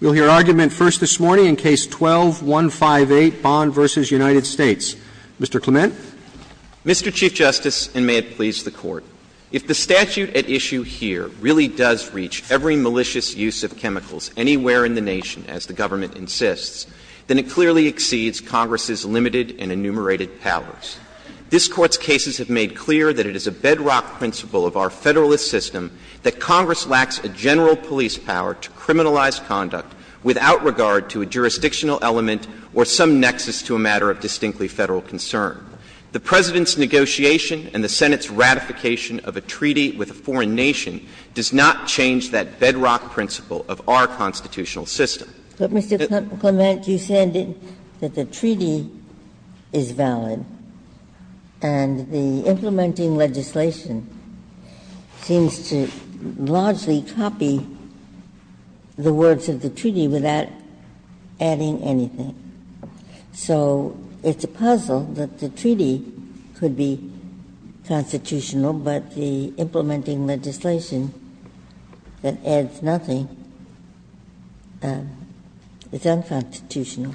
We will hear argument first this morning in Case 12-158, Bond v. United States. Mr. Clement. Mr. Chief Justice, and may it please the Court, if the statute at issue here really does reach every malicious use of chemicals anywhere in the nation, as the government insists, then it clearly exceeds Congress's limited and enumerated powers. This Court's cases have made clear that it is a bedrock principle of our Federalist system that Congress lacks a general police power to criminalize conduct without regard to a jurisdictional element or some nexus to a matter of distinctly Federal concern. The President's negotiation and the Senate's ratification of a treaty with a foreign nation does not change that bedrock principle of our constitutional system. But, Mr. Clement, you said that the treaty is valid, and the implementing legislation seems to largely copy the words of the treaty without adding anything. So it's a puzzle that the treaty could be constitutional, but the implementing legislation that adds nothing, it's unconstitutional.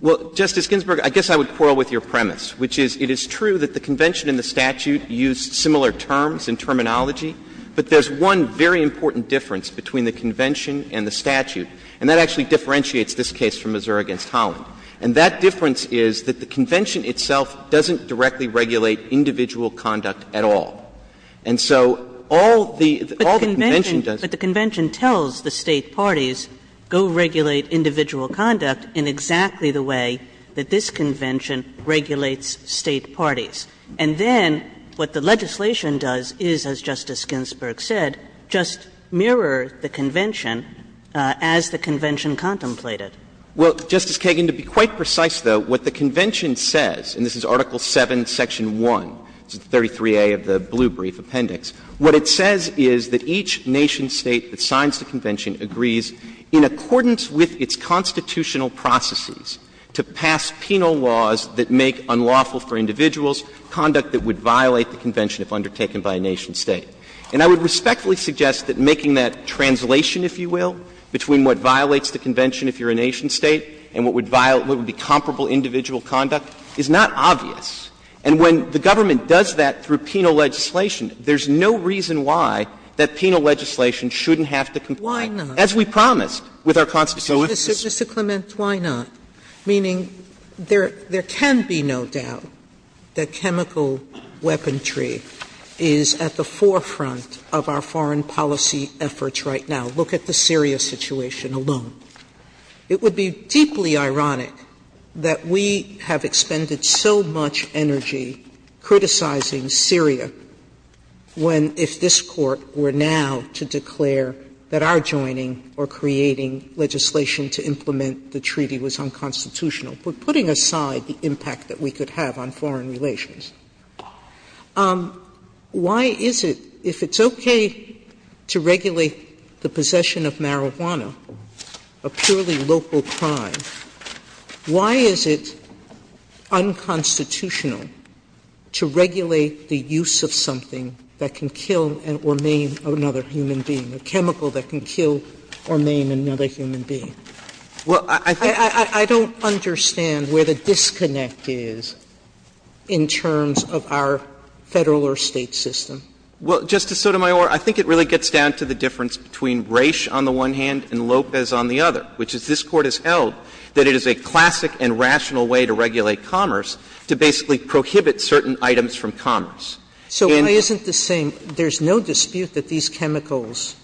Well, Justice Ginsburg, I guess I would quarrel with your premise, which is it is true that the convention and the statute use similar terms and terminology, but there's one very important difference between the convention and the statute. And that actually differentiates this case from Missouri v. Holland. And that difference is that the convention itself doesn't directly regulate individual conduct at all. And so all the convention does is go regulate individual conduct in exactly the way that this convention regulates State parties. And then what the legislation does is, as Justice Ginsburg said, just mirror the convention as the convention contemplated. Well, Justice Kagan, to be quite precise, though, what the convention says, and this is Article VII, Section 1, 33A of the Blue Brief Appendix, what it says is that each nation-State that signs the convention agrees in accordance with its constitutional processes to pass penal laws that make unlawful for individuals conduct that would violate the convention if undertaken by a nation-State. And I would respectfully suggest that making that translation, if you will, between what violates the convention if you're a nation-State and what would violate, what would be comparable individual conduct, is not obvious. And when the government does that through penal legislation, there's no reason why that penal legislation shouldn't have to comply. Sotomayor, as we promised with our constitution. Sotomayor, Mr. Clement, why not? Meaning there can be no doubt that chemical weaponry is at the forefront of our foreign policy efforts right now. Look at the Syria situation alone. It would be deeply ironic that we have expended so much energy criticizing Syria when, if this Court were now to declare that our joining or creating legislation to implement the treaty was unconstitutional, we're putting aside the impact that we could have on foreign relations. Why is it, if it's okay to regulate the possession of marijuana, a purely local crime, why is it unconstitutional to regulate the use of something that can kill or maim another human being? Clement, I don't understand where the disconnect is in terms of our Federal or State system. Well, Justice Sotomayor, I think it really gets down to the difference between Raich on the one hand and Lopez on the other, which is this Court has held that it is a classic and rational way to regulate commerce to basically prohibit certain items from commerce. So why isn't the same? There's no dispute that these chemicals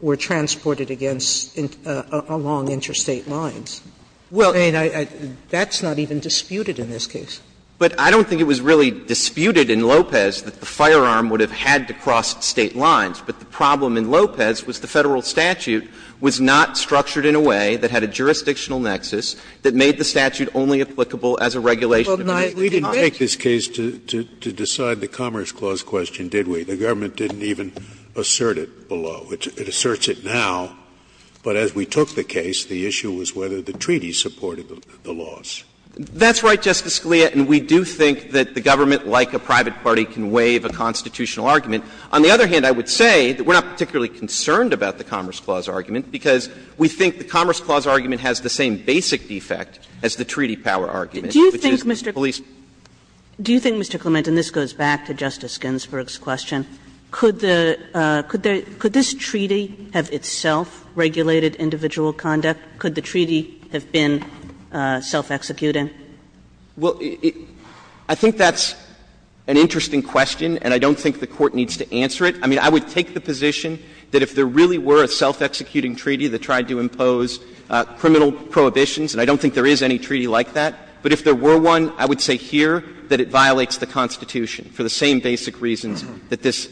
were transported against along interstate lines. Well, I mean, that's not even disputed in this case. But I don't think it was really disputed in Lopez that the firearm would have had to cross State lines. But the problem in Lopez was the Federal statute was not structured in a way that had a jurisdictional nexus that made the statute only applicable as a regulation of an item. Scalia, we didn't take this case to decide the Commerce Clause question, did we? The government didn't even assert it below. It asserts it now. But as we took the case, the issue was whether the treaty supported the laws. That's right, Justice Scalia. And we do think that the government, like a private party, can waive a constitutional argument. On the other hand, I would say that we're not particularly concerned about the Commerce Clause argument, because we think the Commerce Clause argument has the same basic defect as the treaty power argument. Do you think, Mr. Clement, and this goes back to Justice Ginsburg's question, could this treaty have itself regulated individual conduct? Could the treaty have been self-executing? Well, I think that's an interesting question, and I don't think the Court needs to answer it. I mean, I would take the position that if there really were a self-executing treaty that tried to impose criminal prohibitions, and I don't think there is any but if there were one, I would say here that it violates the Constitution for the same basic reasons that this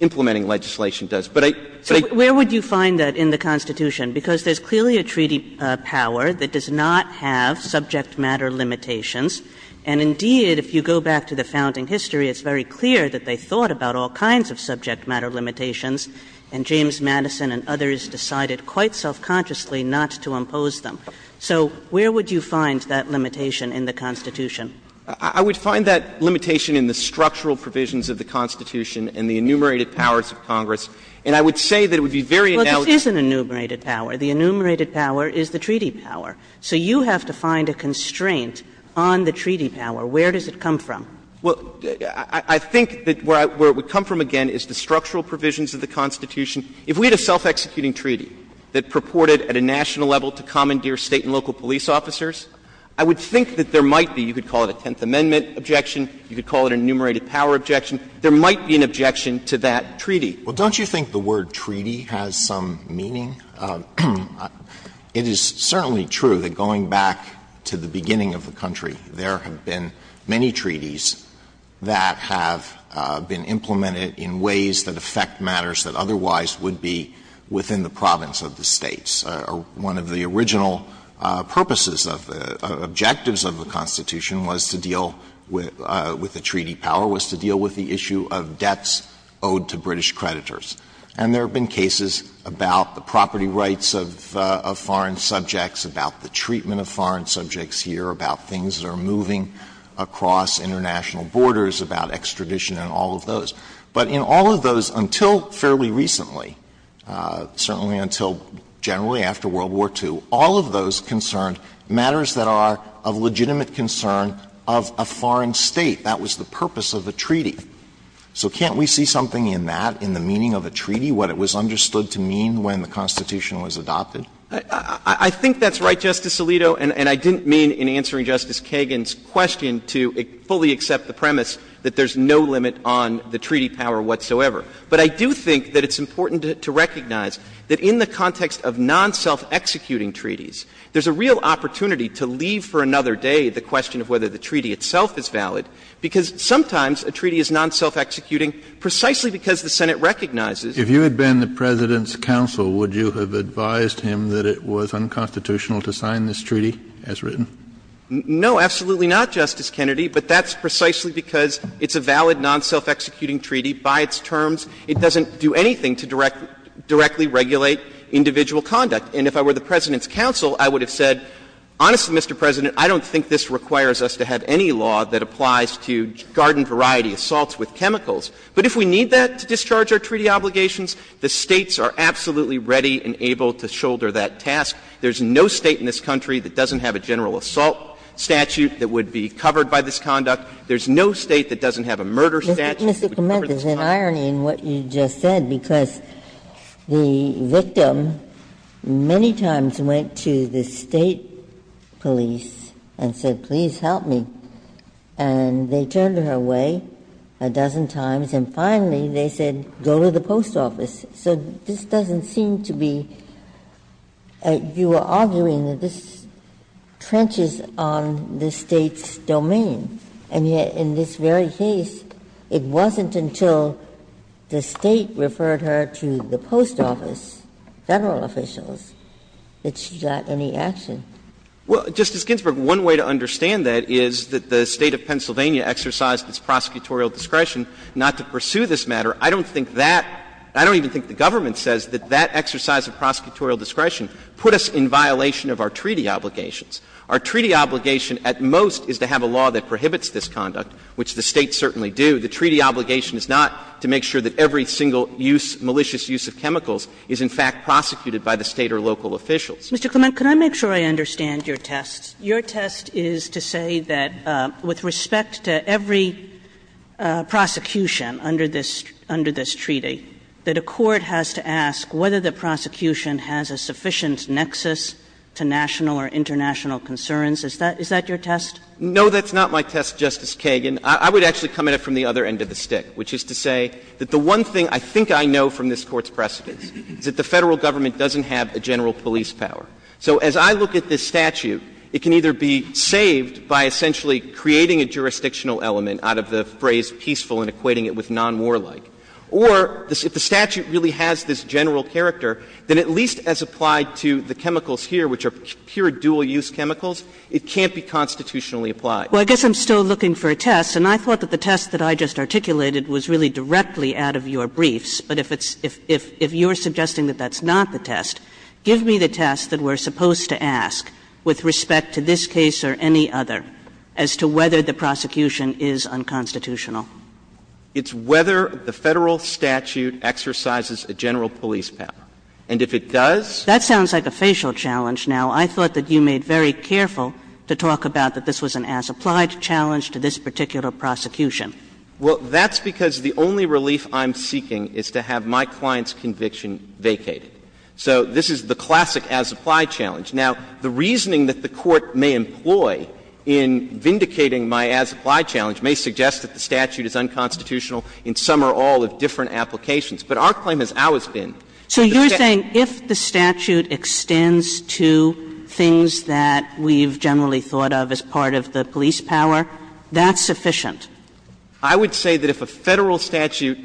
implementing legislation does. But I, but I So where would you find that in the Constitution? Because there's clearly a treaty power that does not have subject matter limitations. And indeed, if you go back to the founding history, it's very clear that they thought about all kinds of subject matter limitations, and James Madison and others decided quite self-consciously not to impose them. So where would you find that limitation in the Constitution? I would find that limitation in the structural provisions of the Constitution and the enumerated powers of Congress. And I would say that it would be very analogous Well, this is an enumerated power. The enumerated power is the treaty power. So you have to find a constraint on the treaty power. Where does it come from? Well, I think that where it would come from, again, is the structural provisions of the Constitution. If we had a self-executing treaty that purported at a national level to commandeer State and local police officers, I would think that there might be, you could call it a Tenth Amendment objection, you could call it an enumerated power objection, there might be an objection to that treaty. Well, don't you think the word treaty has some meaning? It is certainly true that going back to the beginning of the country, there have been many treaties that have been implemented in ways that affect matters that otherwise would be within the province of the States. One of the original purposes of the objectives of the Constitution was to deal with the treaty power, was to deal with the issue of debts owed to British creditors. And there have been cases about the property rights of foreign subjects, about the treatment of foreign subjects here, about things that are moving across international borders, about extradition and all of those. But in all of those, until fairly recently, certainly until generally after World War II, all of those concerned matters that are of legitimate concern of a foreign State. That was the purpose of the treaty. So can't we see something in that, in the meaning of a treaty, what it was understood to mean when the Constitution was adopted? I think that's right, Justice Alito, and I didn't mean in answering Justice Kagan's question to fully accept the premise that there's no limit on the treaty power whatsoever. But I do think that it's important to recognize that in the context of non-self-executing treaties, there's a real opportunity to leave for another day the question of whether the treaty itself is valid, because sometimes a treaty is non-self-executing precisely because the Senate recognizes. Kennedy, if you had been the President's counsel, would you have advised him that it was unconstitutional to sign this treaty as written? No, absolutely not, Justice Kennedy. But that's precisely because it's a valid non-self-executing treaty. By its terms, it doesn't do anything to directly regulate individual conduct. And if I were the President's counsel, I would have said, honestly, Mr. President, I don't think this requires us to have any law that applies to garden-variety assaults with chemicals. But if we need that to discharge our treaty obligations, the States are absolutely ready and able to shoulder that task. There's no State in this country that doesn't have a general assault statute that would be covered by this conduct. There's no State that doesn't have a murder statute that would cover this conduct. Ginsburg. Mr. Clement, there's an irony in what you just said, because the victim many times went to the State police and said, please help me. And they turned her away a dozen times, and finally they said, go to the post office. So this doesn't seem to be you are arguing that this trenches on the State's domain. And yet in this very case, it wasn't until the State referred her to the post office, Federal officials, that she got any action. Clement. Well, Justice Ginsburg, one way to understand that is that the State of Pennsylvania exercised its prosecutorial discretion not to pursue this matter. I don't think that — I don't even think the government says that that exercise of prosecutorial discretion put us in violation of our treaty obligations. Our treaty obligation at most is to have a law that prohibits this conduct, which the States certainly do. The treaty obligation is not to make sure that every single use, malicious use of chemicals is in fact prosecuted by the State or local officials. Mr. Clement, can I make sure I understand your test? Your test is to say that with respect to every prosecution under this — under this treaty, that a court has to ask whether the prosecution has a sufficient nexus to national or international concerns. Is that your test? No, that's not my test, Justice Kagan. I would actually come at it from the other end of the stick, which is to say that the one thing I think I know from this Court's precedents is that the Federal government doesn't have a general police power. So as I look at this statute, it can either be saved by essentially creating a jurisdictional element out of the phrase peaceful and equating it with non-warlike. Or if the statute really has this general character, then at least as applied to the chemicals here, which are pure dual-use chemicals, it can't be constitutionally applied. Well, I guess I'm still looking for a test, and I thought that the test that I just articulated was really directly out of your briefs. But if it's — if you're suggesting that that's not the test, give me the test that we're supposed to ask with respect to this case or any other as to whether the prosecution is unconstitutional. It's whether the Federal statute exercises a general police power. And if it does — That sounds like a facial challenge. Now, I thought that you made very careful to talk about that this was an as-applied challenge to this particular prosecution. Well, that's because the only relief I'm seeking is to have my client's conviction vacated. So this is the classic as-applied challenge. Now, the reasoning that the Court may employ in vindicating my as-applied challenge may suggest that the statute is unconstitutional in some or all of different But our claim has always been that the statute does not exercise a general police power. So you're saying if the statute extends to things that we've generally thought of as part of the police power, that's sufficient? I would say that if a Federal statute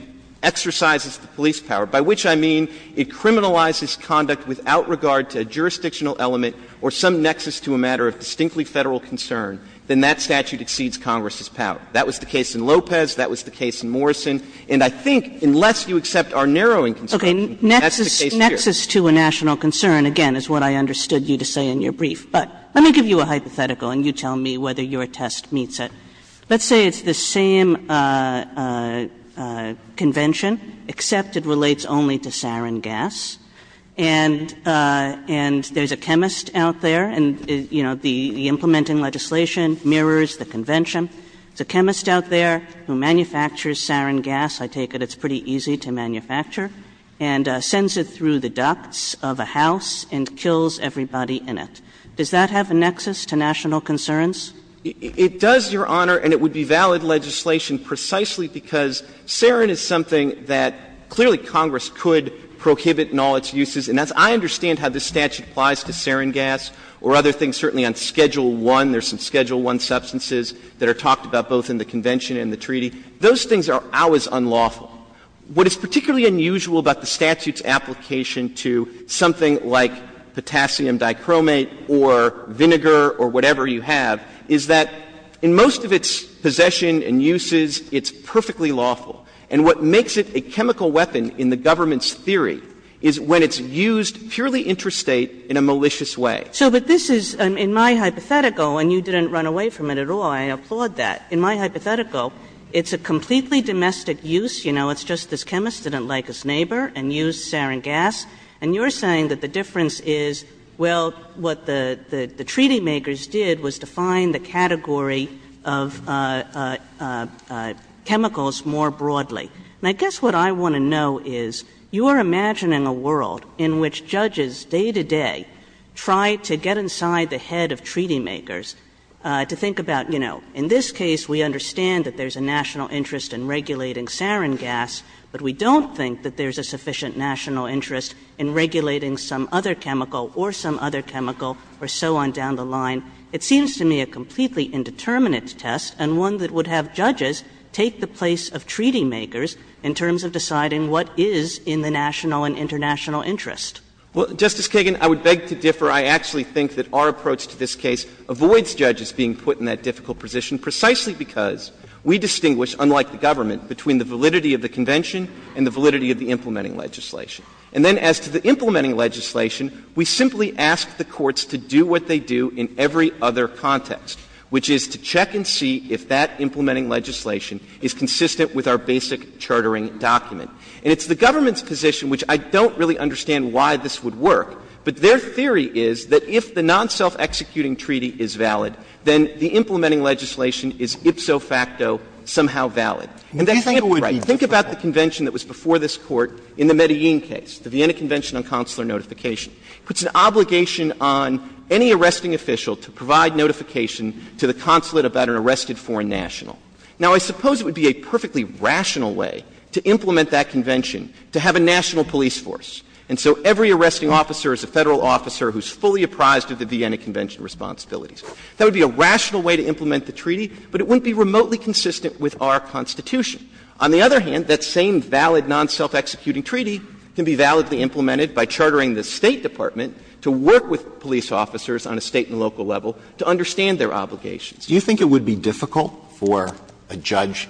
exercises the police power, by which I mean it criminalizes conduct without regard to a jurisdictional element or some nexus to a matter of distinctly Federal concern, then that statute exceeds Congress's power. That was the case in Lopez. That was the case in Morrison. And I think, unless you accept our narrowing concern, that's the case here. Okay. Nexus to a national concern, again, is what I understood you to say in your brief. But let me give you a hypothetical, and you tell me whether your test meets it. Let's say it's the same convention, except it relates only to sarin gas. And there's a chemist out there, and, you know, the implementing legislation mirrors the convention. There's a chemist out there who manufactures sarin gas. I take it it's pretty easy to manufacture. And sends it through the ducts of a house and kills everybody in it. Does that have a nexus to national concerns? It does, Your Honor, and it would be valid legislation precisely because sarin is something that clearly Congress could prohibit in all its uses. And as I understand how this statute applies to sarin gas or other things, certainly on Schedule I, there's some Schedule I substances that are talked about both in the convention and the treaty. Those things are always unlawful. What is particularly unusual about the statute's application to something like potassium dichromate or vinegar or whatever you have, is that in most of its possession and uses, it's perfectly lawful. And what makes it a chemical weapon in the government's theory is when it's used purely interstate in a malicious way. Kagan. So, but this is, in my hypothetical, and you didn't run away from it at all. I applaud that. In my hypothetical, it's a completely domestic use. You know, it's just this chemist didn't like his neighbor and used sarin gas. And you're saying that the difference is, well, what the treaty makers did was define the category of chemicals more broadly. And I guess what I want to know is, you are imagining a world in which judges day-to-day try to get inside the head of treaty makers to think about, you know, in this case, we understand that there's a national interest in regulating sarin gas, but we don't think that there's a sufficient national interest in regulating some other chemical or some other chemical or so on down the line. It seems to me a completely indeterminate test and one that would have judges take the place of treaty makers in terms of deciding what is in the national and international interest. Well, Justice Kagan, I would beg to differ. I actually think that our approach to this case avoids judges being put in that difficult position precisely because we distinguish, unlike the government, between the validity of the convention and the validity of the implementing legislation. And then as to the implementing legislation, we simply ask the courts to do what they do in every other context, which is to check and see if that implementing legislation is consistent with our basic chartering document. And it's the government's position, which I don't really understand why this would work, but their theory is that if the non-self-executing treaty is valid, then the implementing legislation is ipso facto somehow valid. And that's not right. Think about the convention that was before this Court in the Medellin case, the Vienna Convention on Consular Notification. It puts an obligation on any arresting official to provide notification to the consulate about an arrested foreign national. Now, I suppose it would be a perfectly rational way to implement that convention to have a national police force. And so every arresting officer is a Federal officer who is fully apprised of the Vienna Convention responsibilities. That would be a rational way to implement the treaty, but it wouldn't be remotely consistent with our Constitution. On the other hand, that same valid non-self-executing treaty can be validly implemented by chartering the State Department to work with police officers on a State and local level to understand their obligations. Alitoso, do you think it would be difficult for a judge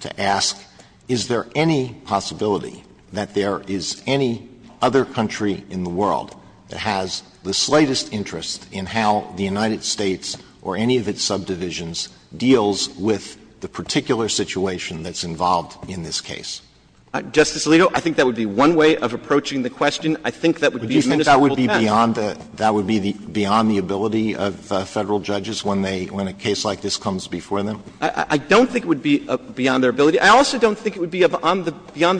to ask, is there any possibility that there is any other country in the world that has the slightest interest in how the United States or any of its subdivisions deals with the particular situation that's involved in this case? Justice Alito, I think that would be one way of approaching the question. I think that would be a ministerial test. Would you think that would be beyond the ability of Federal judges when a case like this comes before them? I don't think it would be beyond their ability. I also don't think it would be beyond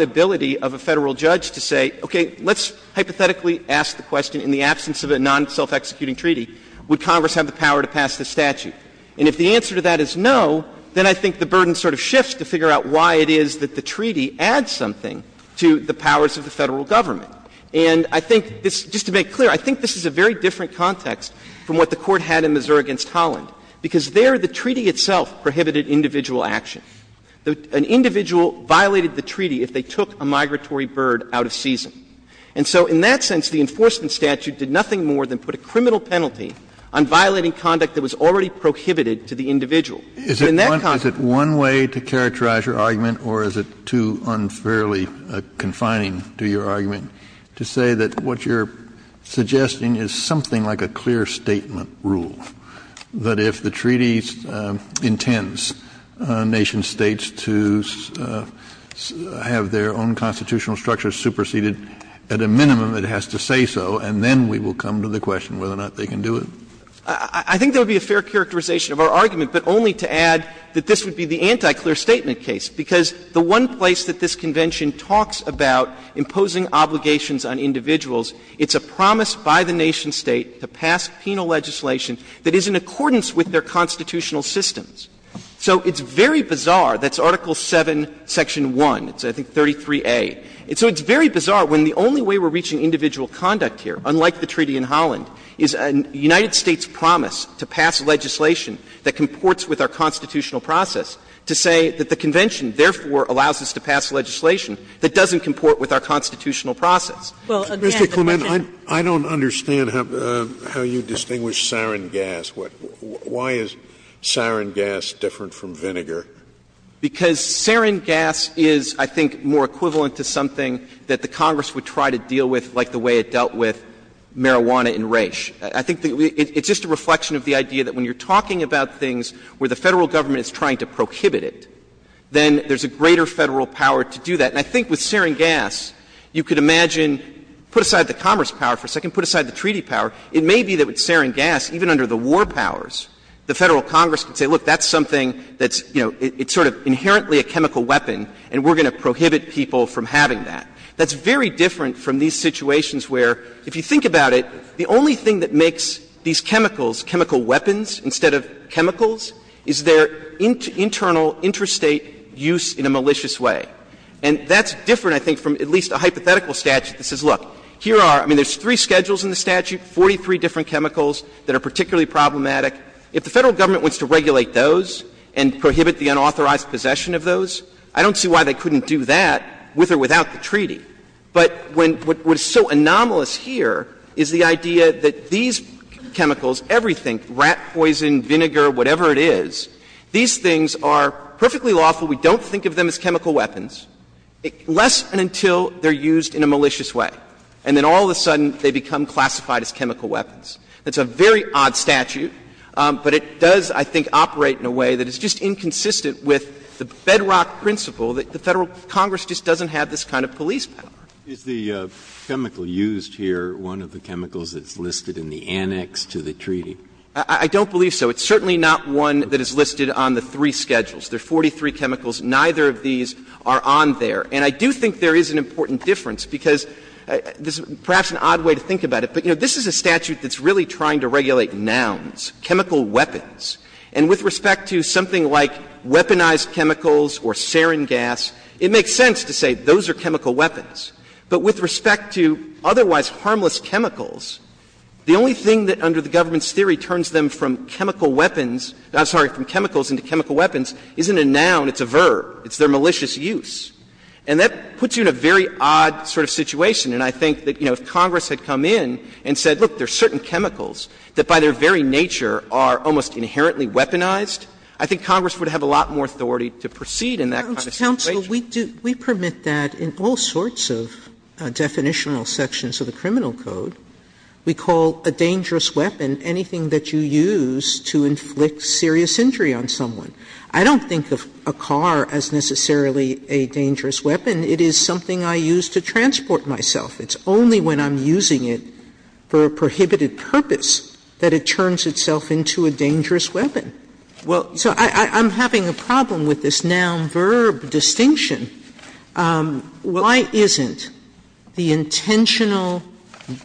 the ability of a Federal judge to say, okay, let's hypothetically ask the question, in the absence of a non-self-executing treaty, would Congress have the power to pass this statute? And if the answer to that is no, then I think the burden sort of shifts to figure out why it is that the treaty adds something to the powers of the Federal government. And I think this, just to make clear, I think this is a very different context from what the Court had in Missouri v. Holland, because there the treaty itself prohibited individual action. An individual violated the treaty if they took a migratory bird out of season. And so in that sense, the enforcement statute did nothing more than put a criminal penalty on violating conduct that was already prohibited to the individual. In that context — Kennedy, is it one way to characterize your argument, or is it too unfairly confining to your argument, to say that what you're suggesting is something like a clear statement rule, that if the treaty intends nation-states to have their own constitutional structures superseded, at a minimum it has to say so, and then we will come to the question whether or not they can do it? I think there would be a fair characterization of our argument, but only to add that this would be the anti-clear statement case, because the one place that this Convention talks about imposing obligations on individuals, it's a promise by the nation-state to pass penal legislation that is in accordance with their constitutional systems. So it's very bizarre that it's Article VII, Section 1. It's, I think, 33A. So it's very bizarre when the only way we're reaching individual conduct here, unlike the treaty in Holland, is a United States promise to pass legislation that comports with our constitutional process, to say that the Convention, therefore, allows us to pass legislation that doesn't comport with our constitutional Well, again, but I think the question is the same. Scalia, I don't understand how you distinguish sarin gas. Why is sarin gas different from vinegar? Because sarin gas is, I think, more equivalent to something that the Congress would try to deal with like the way it dealt with marijuana in Raich. I think it's just a reflection of the idea that when you're talking about things where the Federal government is trying to prohibit it, then there's a greater Federal power to do that. And I think with sarin gas, you could imagine, put aside the commerce power for a second, put aside the treaty power, it may be that with sarin gas, even under the war powers, the Federal Congress can say, look, that's something that's, you know, it's sort of inherently a chemical weapon, and we're going to prohibit people from having that. That's very different from these situations where, if you think about it, the only thing that makes these chemicals chemical weapons instead of chemicals is their internal interstate use in a malicious way. And that's different, I think, from at least a hypothetical statute that says, look, here are, I mean, there's three schedules in the statute, 43 different chemicals that are particularly problematic. If the Federal government wants to regulate those and prohibit the unauthorized possession of those, I don't see why they couldn't do that with or without the treaty. But what's so anomalous here is the idea that these chemicals, everything, rat poison, vinegar, whatever it is, these things are perfectly lawful. We don't think of them as chemical weapons, less than until they're used in a malicious way, and then all of a sudden they become classified as chemical weapons. That's a very odd statute, but it does, I think, operate in a way that is just inconsistent with the bedrock principle that the Federal Congress just doesn't have this kind of police power. Breyer. Is the chemical used here one of the chemicals that's listed in the annex to the treaty? I don't believe so. It's certainly not one that is listed on the three schedules. There are 43 chemicals. Neither of these are on there. And I do think there is an important difference, because this is perhaps an odd way to think about it, but, you know, this is a statute that's really trying to regulate nouns, chemical weapons. And with respect to something like weaponized chemicals or sarin gas, it makes sense to say those are chemical weapons. But with respect to otherwise harmless chemicals, the only thing that under the government's theory turns them from chemical weapons — I'm sorry, from chemicals into chemical weapons isn't a noun, it's a verb, it's their malicious use. And that puts you in a very odd sort of situation. And I think that, you know, if Congress had come in and said, look, there are certain chemicals that by their very nature are almost inherently weaponized, I think Congress would have a lot more authority to proceed in that kind of situation. Sotomayor, we do — we permit that in all sorts of definitional sections of the Criminal Code. We call a dangerous weapon anything that you use to inflict serious injury on someone. I don't think of a car as necessarily a dangerous weapon. It is something I use to transport myself. It's only when I'm using it for a prohibited purpose that it turns itself into a dangerous weapon. Well, so I'm having a problem with this noun-verb distinction. Why isn't the intentional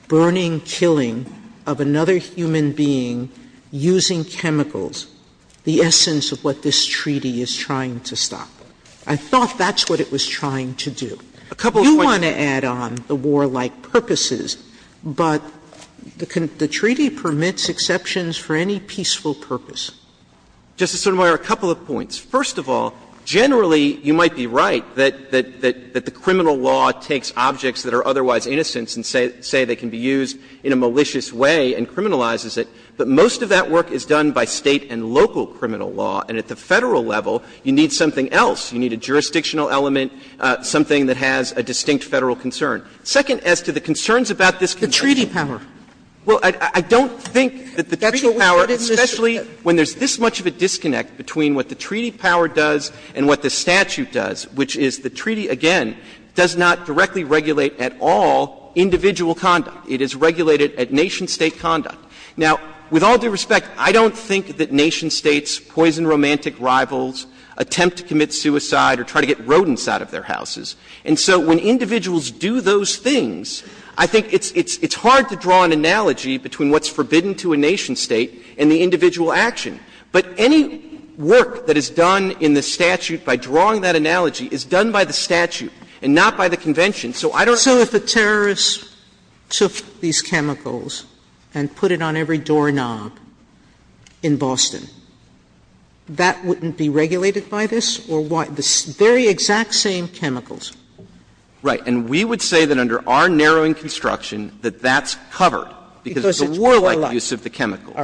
burning, killing of another human being using chemicals the essence of what this treaty is trying to stop? I thought that's what it was trying to do. You want to add on the warlike purposes, but the treaty permits exceptions for any peaceful purpose. Justice Sotomayor, a couple of points. First of all, generally you might be right that the criminal law takes objects that are otherwise innocent and say they can be used in a malicious way and criminalizes it, but most of that work is done by State and local criminal law, and at the Federal level, you need something else. You need a jurisdictional element, something that has a distinct Federal concern. Second, as to the concerns about this concern. Sotomayor, the treaty power. Well, I don't think that the treaty power, especially when there's this much of a disconnect between what the treaty power does and what the statute does, which is the treaty, again, does not directly regulate at all individual conduct. It is regulated at nation-state conduct. Now, with all due respect, I don't think that nation-states poison romantic rivals, attempt to commit suicide, or try to get rodents out of their houses. And so when individuals do those things, I think it's hard to draw an analogy between what's forbidden to a nation-state and the individual action. But any work that is done in the statute by drawing that analogy is done by the statute and not by the convention. Sotomayor, I don't think it's fair to say that if you put it on every doorknob in Boston, that wouldn't be regulated by this or why? The very exact same chemicals. Right. And we would say that under our narrowing construction that that's covered because it's a warlike use of the chemicals.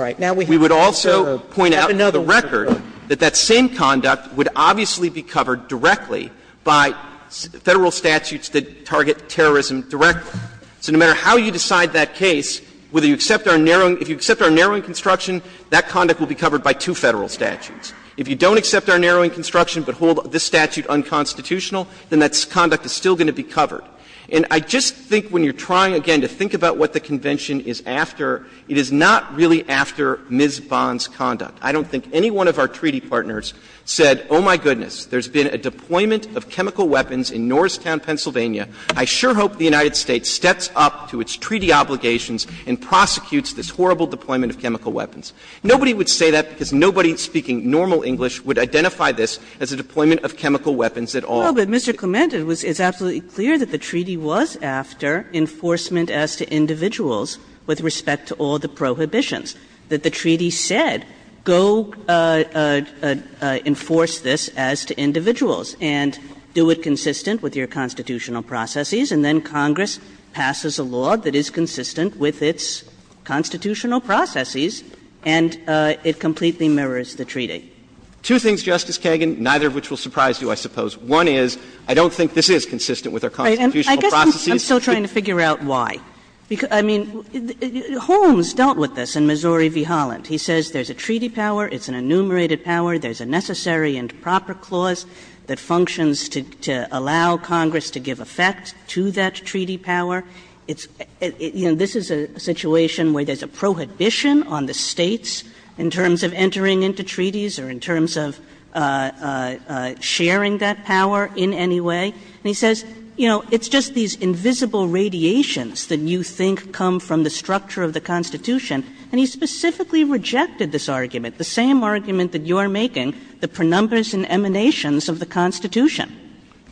We would also point out for the record that that same conduct would obviously be covered directly by Federal statutes that target terrorism directly. So no matter how you decide that case, whether you accept our narrowing – if you accept our narrowing construction, that conduct will be covered by two Federal statutes. If you don't accept our narrowing construction but hold this statute unconstitutional, then that conduct is still going to be covered. And I just think when you're trying, again, to think about what the convention is after, it is not really after Ms. Bond's conduct. I don't think any one of our treaty partners said, oh, my goodness, there's been a deployment of chemical weapons in Norristown, Pennsylvania. I sure hope the United States steps up to its treaty obligations and prosecutes this horrible deployment of chemical weapons. Nobody would say that because nobody speaking normal English would identify this as a deployment of chemical weapons at all. Kagan. But, Mr. Clement, it's absolutely clear that the treaty was after enforcement as to individuals with respect to all the prohibitions, that the treaty said, go enforce this as to individuals and do it consistent with your constitutional prerogatives. And it is consistent with our constitutional processes. And then Congress passes a law that is consistent with its constitutional processes, and it completely mirrors the treaty. Two things, Justice Kagan, neither of which will surprise you, I suppose. One is I don't think this is consistent with our constitutional processes. Right. And I guess I'm still trying to figure out why. I mean, Holmes dealt with this in Missouri v. Holland. He says there's a treaty power, it's an enumerated power, there's a necessary and proper clause that functions to allow Congress to give effect to that treaty power. It's – you know, this is a situation where there's a prohibition on the States in terms of entering into treaties or in terms of sharing that power in any way. And he says, you know, it's just these invisible radiations that you think come from the structure of the Constitution. And he specifically rejected this argument, the same argument that you're making, the prenumbers and emanations of the Constitution.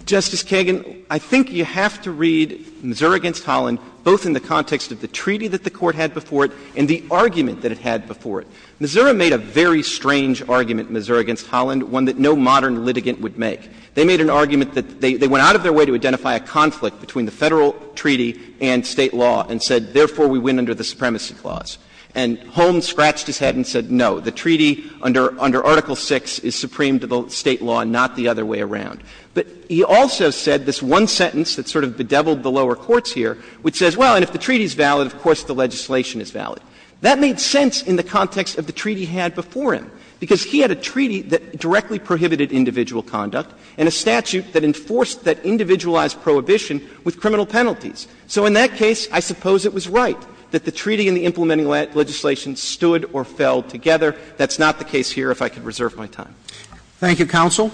Justice Kagan, I think you have to read Missouri v. Holland both in the context of the treaty that the Court had before it and the argument that it had before it. Missouri made a very strange argument, Missouri v. Holland, one that no modern litigant would make. They made an argument that they went out of their way to identify a conflict between the Federal treaty and State law and said, therefore, we win under the supremacy clause. And Holmes scratched his head and said, no. The treaty under Article VI is supreme to the State law, not the other way around. But he also said this one sentence that sort of bedeviled the lower courts here, which says, well, and if the treaty is valid, of course the legislation is valid. That made sense in the context of the treaty he had before him, because he had a treaty that directly prohibited individual conduct and a statute that enforced that individualized prohibition with criminal penalties. So in that case, I suppose it was right that the treaty and the implementing legislation stood or fell together. That's not the case here, if I could reserve my time. Roberts. Thank you, counsel.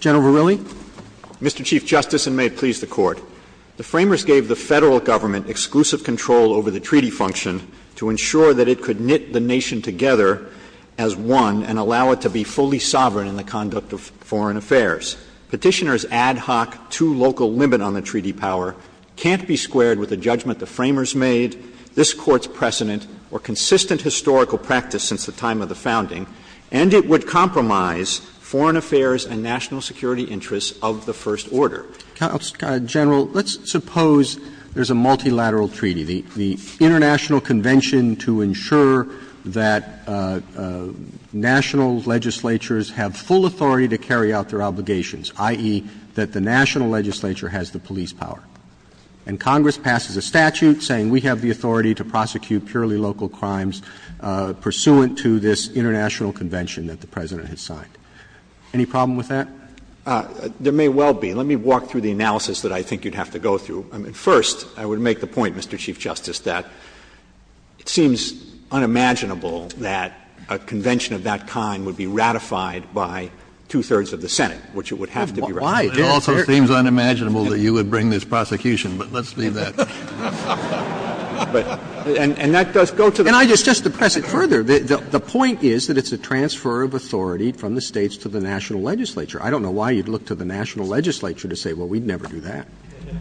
General Verrilli. Mr. Chief Justice, and may it please the Court. The Framers gave the Federal Government exclusive control over the treaty function to ensure that it could knit the nation together as one and allow it to be fully sovereign in the conduct of foreign affairs. Petitioner's ad hoc, too local limit on the treaty power can't be squared with the judgment the Framers made, this Court's precedent, or consistent historical practice since the time of the founding, and it would compromise foreign affairs and national security interests of the First Order. Counsel, General, let's suppose there's a multilateral treaty, the International Convention to ensure that national legislatures have full authority to carry out their obligations, i.e., that the national legislature has the police power. And Congress passes a statute saying we have the authority to prosecute purely local crimes pursuant to this International Convention that the President has signed. Any problem with that? There may well be. Let me walk through the analysis that I think you'd have to go through. First, I would make the point, Mr. Chief Justice, that it seems unimaginable that a convention of that kind would be ratified by two-thirds of the Senate. It also seems unimaginable that you would bring this prosecution, but let's leave that. And that does go to the point. And just to press it further, the point is that it's a transfer of authority from the States to the national legislature. I don't know why you'd look to the national legislature to say, well, we'd never do that.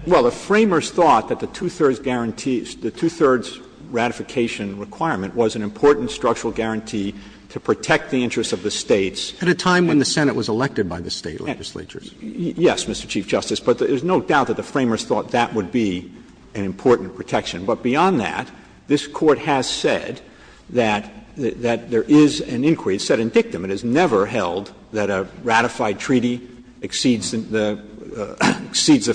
Well, the Framers thought that the two-thirds guarantee, the two-thirds ratification requirement was an important structural guarantee to protect the interests of the States. At a time when the Senate was elected by the State legislatures. Yes, Mr. Chief Justice, but there's no doubt that the Framers thought that would be an important protection. But beyond that, this Court has said that there is an inquiry. It said in dictum it is never held that a ratified treaty exceeds the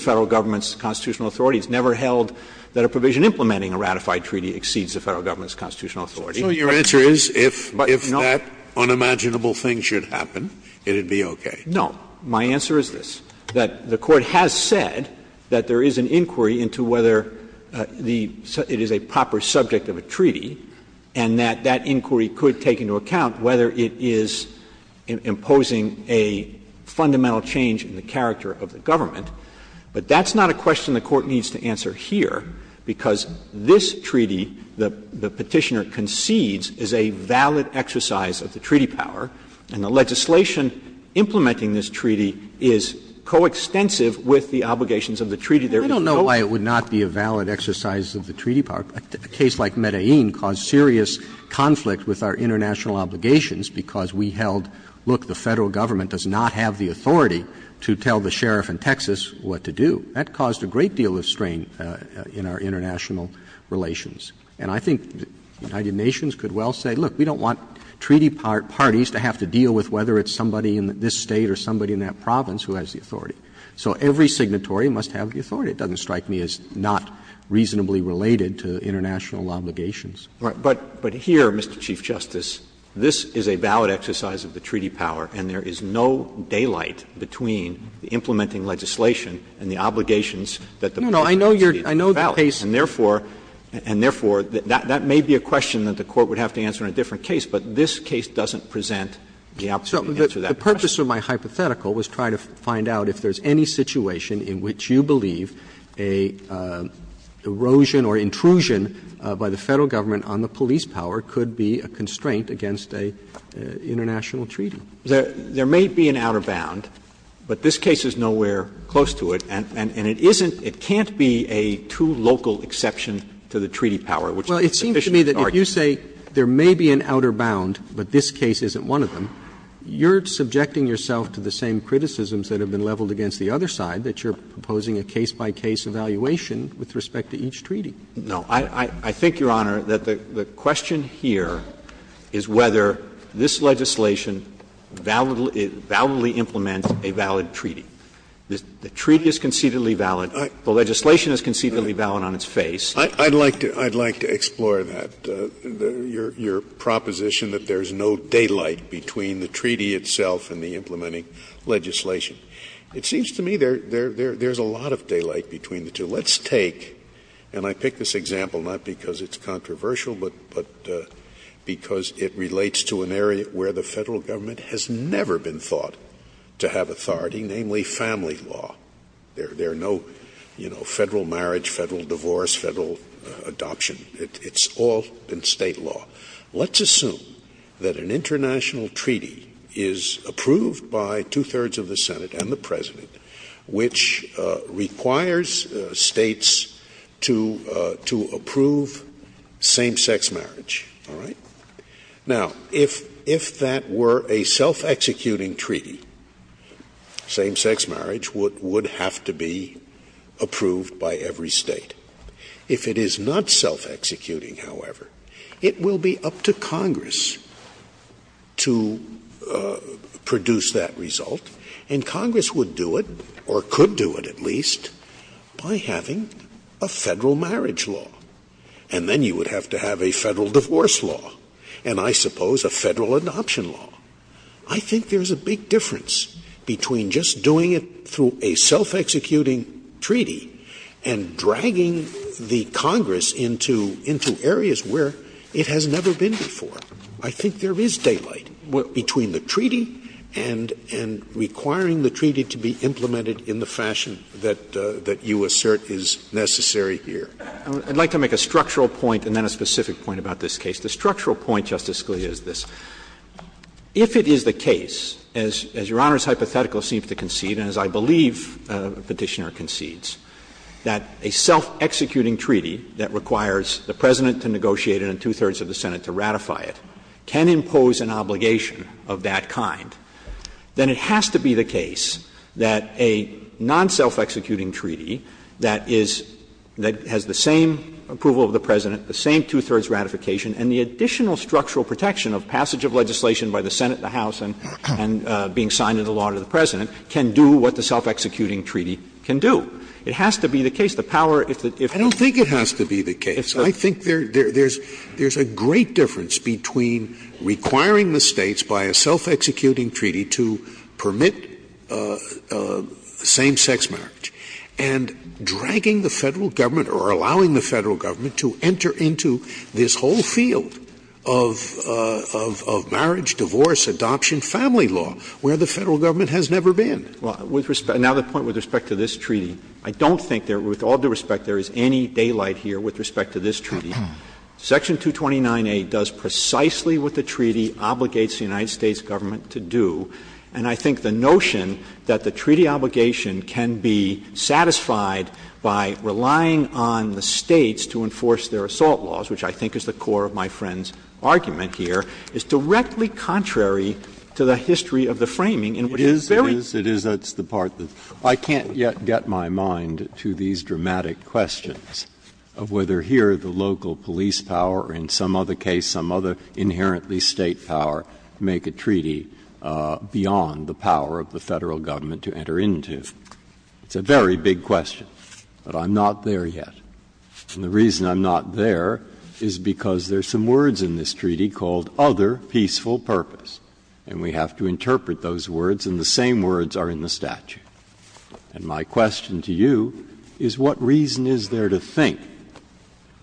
Federal Government's constitutional authority. It's never held that a provision implementing a ratified treaty exceeds the Federal Government's constitutional authority. Scalia, so your answer is if that unimaginable thing should happen, it would be okay? No. My answer is this, that the Court has said that there is an inquiry into whether the – it is a proper subject of a treaty, and that that inquiry could take into account whether it is imposing a fundamental change in the character of the government. But that's not a question the Court needs to answer here, because this treaty, the Petitioner concedes, is a valid exercise of the treaty power, and the legislation implementing this treaty is coextensive with the obligations of the treaty there is no question. I don't know why it would not be a valid exercise of the treaty power. A case like Medellin caused serious conflict with our international obligations because we held, look, the Federal Government does not have the authority to tell the sheriff in Texas what to do. That caused a great deal of strain in our international relations. And I think the United Nations could well say, look, we don't want treaty parties to have to deal with whether it's somebody in this State or somebody in that province who has the authority. So every signatory must have the authority. It doesn't strike me as not reasonably related to international obligations. Roberts. But here, Mr. Chief Justice, this is a valid exercise of the treaty power, and there is no daylight between the implementing legislation and the obligations that the Petitioner has. I know the case, and therefore, and therefore, that may be a question that the Court would have to answer in a different case, but this case doesn't present the opportunity to answer that question. Roberts. The purpose of my hypothetical was to try to find out if there is any situation in which you believe an erosion or intrusion by the Federal Government on the police power could be a constraint against an international treaty. There may be an outer bound, but this case is nowhere close to it, and it isn't It can't be a two-local exception to the treaty power, which is a sufficient Roberts. Well, it seems to me that if you say there may be an outer bound, but this case isn't one of them, you're subjecting yourself to the same criticisms that have been leveled against the other side, that you're proposing a case-by-case evaluation with respect to each treaty. No. I think, Your Honor, that the question here is whether this legislation validly implements a valid treaty. The treaty is concededly valid. The legislation is concededly valid on its face. Scalia I'd like to explore that, your proposition that there is no daylight between the treaty itself and the implementing legislation. It seems to me there is a lot of daylight between the two. Let's take, and I pick this example not because it's controversial, but because it relates to an area where the Federal Government has never been thought to have authority, namely family law. There are no, you know, Federal marriage, Federal divorce, Federal adoption. It's all been State law. Let's assume that an international treaty is approved by two-thirds of the Senate and the President, which requires States to approve same-sex marriage. All right? Now, if that were a self-executing treaty, same-sex marriage would have to be approved by every State. If it is not self-executing, however, it will be up to Congress to produce that result, and Congress would do it, or could do it at least, by having a Federal marriage law. And then you would have to have a Federal divorce law. And I suppose a Federal adoption law. I think there is a big difference between just doing it through a self-executing treaty and dragging the Congress into areas where it has never been before. I think there is daylight between the treaty and requiring the treaty to be implemented in the fashion that you assert is necessary here. I would like to make a structural point and then a specific point about this case. The structural point, Justice Scalia, is this. If it is the case, as Your Honor's hypothetical seems to concede and as I believe Petitioner concedes, that a self-executing treaty that requires the President to negotiate it and two-thirds of the Senate to ratify it can impose an obligation of that kind, then it has to be the case that a non-self-executing treaty that is the same approval of the President, the same two-thirds ratification, and the additional structural protection of passage of legislation by the Senate, the House, and being signed into law to the President can do what the self-executing treaty can do. It has to be the case. The power, if the ---- Scalia, I don't think it has to be the case. I think there is a great difference between requiring the States by a self-executing treaty to permit same-sex marriage and dragging the Federal Government or allowing the Federal Government to enter into this whole field of marriage, divorce, adoption, family law, where the Federal Government has never been. Well, with respect to the point with respect to this treaty, I don't think there is, with all due respect, there is any daylight here with respect to this treaty. Section 229A does precisely what the treaty obligates the United States Government to do, and I think the notion that the treaty obligation can be satisfied by relying on the States to enforce their assault laws, which I think is the core of my friend's argument here, is directly contrary to the history of the framing in which it's very important. Breyer, it is, it is, that's the part that I can't yet get my mind to these dramatic questions of whether here the local police power or in some other case some other inherently State power make a treaty beyond the power of the Federal Government to enter into. It's a very big question, but I'm not there yet. And the reason I'm not there is because there are some words in this treaty called other peaceful purpose, and we have to interpret those words, and the same words are in the statute. And my question to you is what reason is there to think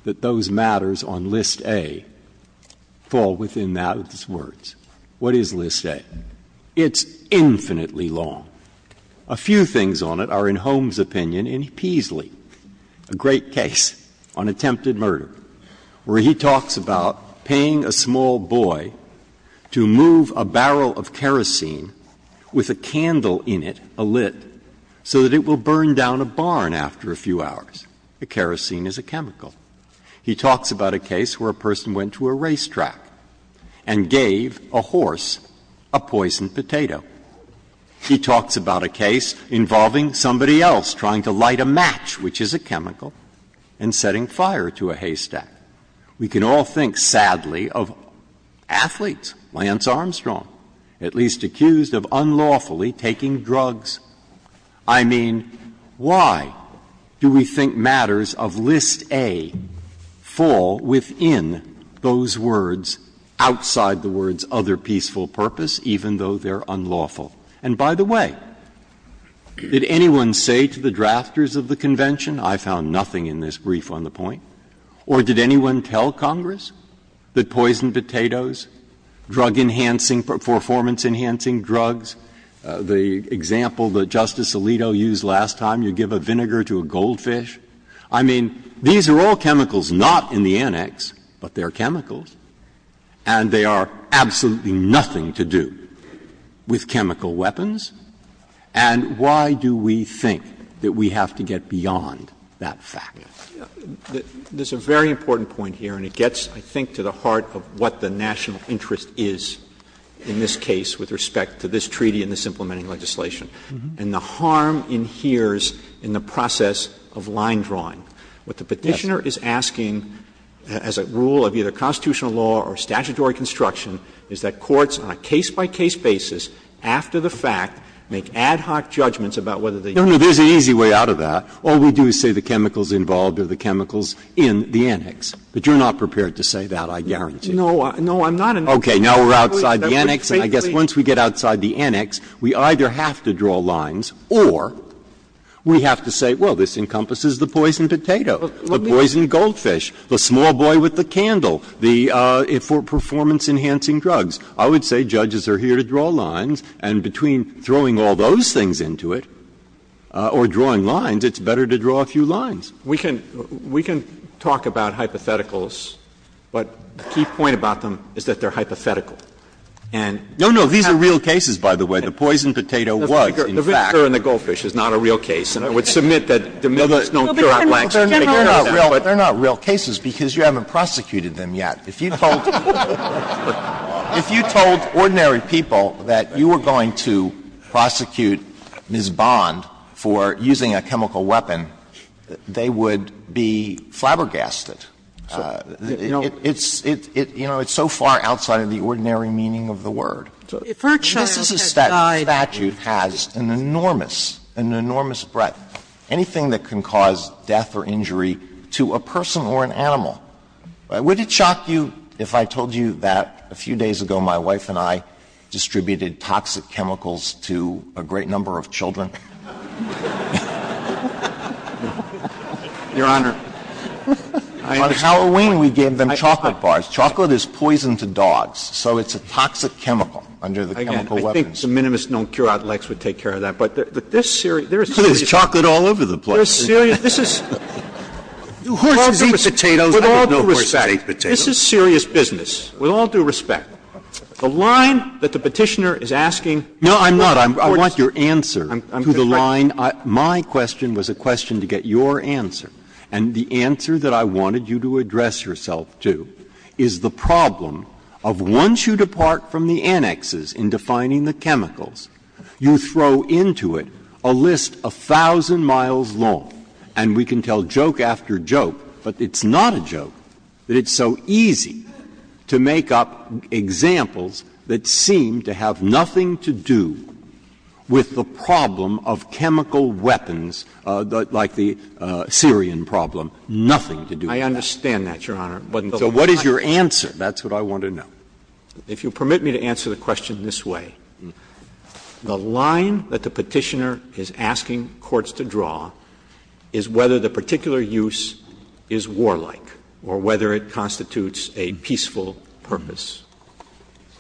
that those matters on List A fall within those words? What is List A? It's infinitely long. A few things on it are in Holmes' opinion in Peaslee, a great case on attempted murder, where he talks about paying a small boy to move a barrel of kerosene with a candle in it, a lid, so that it will burn down a barn after a few hours. The kerosene is a chemical. He talks about a case where a person went to a racetrack and gave a horse a poisoned potato. He talks about a case involving somebody else trying to light a match, which is a chemical, and setting fire to a haystack. We can all think, sadly, of athletes, Lance Armstrong, at least accused of unlawfully taking drugs. I mean, why do we think matters of List A fall within those words outside the words other peaceful purpose, even though they are unlawful? And by the way, did anyone say to the drafters of the convention, I found nothing in this brief on the point, or did anyone tell Congress that poisoned potatoes, drug-enhancing, performance-enhancing drugs, the example that Justice Alito used last time, you give a vinegar to a goldfish, I mean, these are all chemicals not in the annex, but they are chemicals, and they are absolutely nothing to do with chemical weapons? And why do we think that we have to get beyond that fact? Verrilli, There's a very important point here, and it gets, I think, to the heart of what the national interest is in this case with respect to this treaty and this implementing legislation. And the harm in here is in the process of line drawing. What the Petitioner is asking as a rule of either constitutional law or statutory construction is that courts, on a case-by-case basis, after the fact, make ad hoc judgments about whether the. Breyer, No, no, there's an easy way out of that. All we do is say the chemicals involved are the chemicals in the annex. But you're not prepared to say that, I guarantee you. Verrilli, No, I'm not. Breyer, Okay. Now we're outside the annex, and I guess once we get outside the annex, we either have to draw lines or we have to say, well, this encompasses the poisoned potato, the poisoned goldfish, the small boy with the candle, the performance-enhancing drugs. I would say judges are here to draw lines, and between throwing all those things into it or drawing lines, it's better to draw a few lines. Verrilli, We can talk about hypotheticals, but the key point about them is that they are hypothetical. And we have to draw lines. Breyer, No, no, these are real cases, by the way. The poisoned potato was, in fact. Verrilli, The vinegar in the goldfish is not a real case, and I would submit that the mills don't cure out Black's. They're not real cases because you haven't prosecuted them yet. If you told ordinary people that you were going to prosecute Ms. Bond for using a chemical weapon, they would be flabbergasted. It's so far outside of the ordinary meaning of the word. The Mississippi statute has an enormous, an enormous breadth. Anything that can cause death or injury to a person or an animal, would it shock you if I told you that a few days ago my wife and I distributed toxic chemicals to a great number of children? Verrilli, Your Honor, I understand. Alito, On Halloween, we gave them chocolate bars. Chocolate is poison to dogs, so it's a toxic chemical under the chemical weapons. Verrilli, Again, I think the minimists don't cure out Lex would take care of that. But this series, there is a series of cases. And I'm not going to tell you that all over the place. This is, with all due respect, this is serious business. With all due respect, the line that the Petitioner is asking. Breyer, I'm not. I want your answer to the line. My question was a question to get your answer. And the answer that I wanted you to address yourself to is the problem of once you And we can tell joke after joke, but it's not a joke that it's so easy to make up examples that seem to have nothing to do with the problem of chemical weapons like the Syrian problem, nothing to do with that. Verrilli, I understand that, Your Honor. Breyer, So what is your answer? That's what I want to know. Verrilli, If you'll permit me to answer the question this way. The line that the Petitioner is asking courts to draw is whether the particular use is warlike or whether it constitutes a peaceful purpose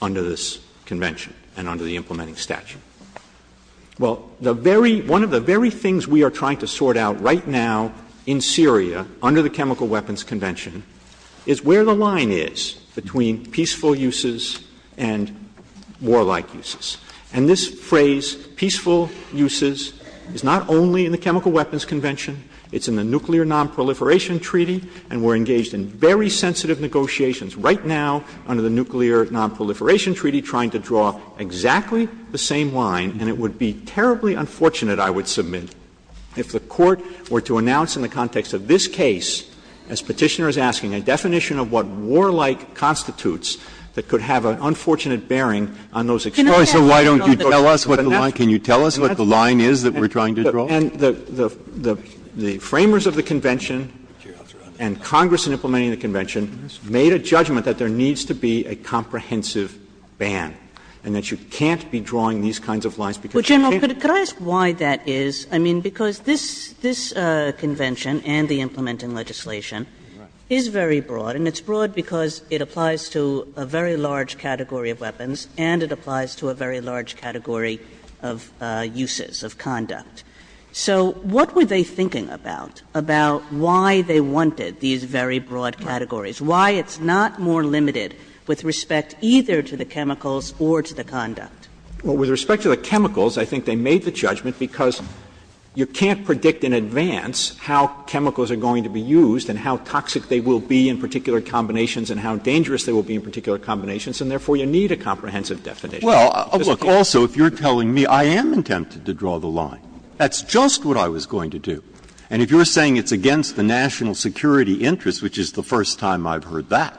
under this convention and under the implementing statute. Well, the very one of the very things we are trying to sort out right now in Syria under the Chemical Weapons Convention is where the line is between peaceful uses and warlike uses. And this phrase, peaceful uses, is not only in the Chemical Weapons Convention. It's in the Nuclear Nonproliferation Treaty, and we're engaged in very sensitive negotiations right now under the Nuclear Nonproliferation Treaty trying to draw exactly the same line. And it would be terribly unfortunate, I would submit, if the Court were to announce in the context of this case, as Petitioner is asking, a definition of what warlike constitutes that could have an unfortunate bearing on those extremes. So why don't you tell us what the line – can you tell us what the line is that we're trying to draw? And the framers of the convention and Congress in implementing the convention made a judgment that there needs to be a comprehensive ban and that you can't be drawing these kinds of lines because you can't. But, General, could I ask why that is? I mean, because this convention and the implementing legislation is very broad, and it's broad because it applies to a very large category of weapons and it applies to a very large category of uses, of conduct. So what were they thinking about, about why they wanted these very broad categories, why it's not more limited with respect either to the chemicals or to the conduct? Well, with respect to the chemicals, I think they made the judgment because you can't predict in advance how chemicals are going to be used and how toxic they will be in particular combinations and how dangerous they will be in particular combinations, and therefore, you need a comprehensive definition. Breyer, also, if you're telling me I am attempting to draw the line, that's just what I was going to do. And if you're saying it's against the national security interest, which is the first time I've heard that,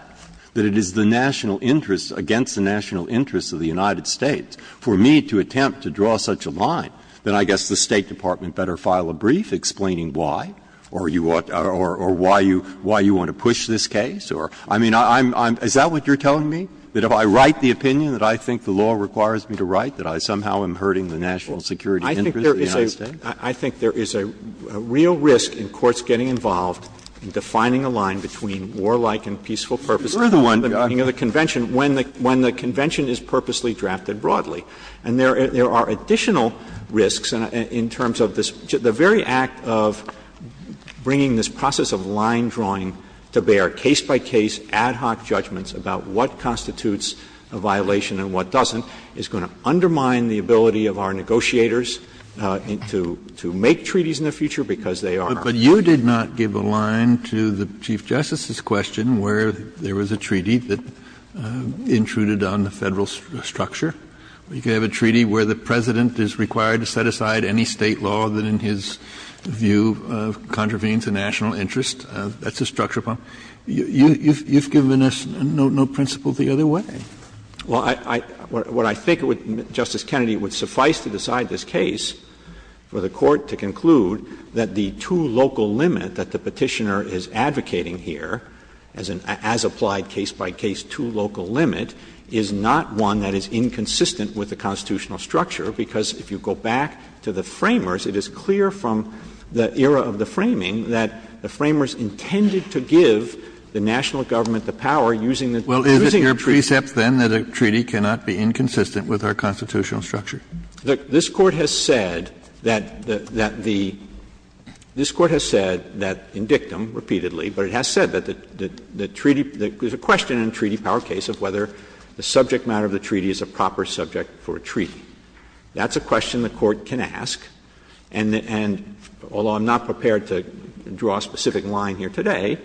that it is the national interest against the national interest of the United States for me to attempt to draw such a line, then I guess the State Department better file a brief explaining why or you ought to – or why you want to push this case, or – I mean, I'm – is that what you're telling me, that if I write the opinion that I think the law requires me to write, that I somehow am hurting the national security interest of the United States? I think there is a real risk in courts getting involved in defining a line between warlike and peaceful purposes. You're the one that got me. You know, the convention, when the convention is purposely drafted broadly. And there are additional risks in terms of this – the very act of bringing this process of line-drawing to bear, case-by-case, ad hoc judgments about what constitutes a violation and what doesn't, is going to undermine the ability of our negotiators to make treaties in the future, because they are. Kennedy, but you did not give a line to the Chief Justice's question where there was a treaty that intruded on the Federal structure. You could have a treaty where the President is required to set aside any State law that, in his view, contravenes the national interest. That's a structure problem. You've given us no principle the other way. Well, I – what I think, Justice Kennedy, would suffice to decide this case for the Court to conclude that the two-local limit that the Petitioner is advocating here, as an as-applied, case-by-case, two-local limit, is not one that is inconsistent with the constitutional structure, because if you go back to the Framers, it is clear from the era of the Framing that the Framers intended to give the national government the power using the treaty. Well, is it your precept, then, that a treaty cannot be inconsistent with our constitutional structure? This Court has said that the – this Court has said that in dictum, repeatedly, but it has said that the treaty – there's a question in a treaty power case of whether the subject matter of the treaty is a proper subject for a treaty. That's a question the Court can ask, and although I'm not prepared to draw a specific line here today,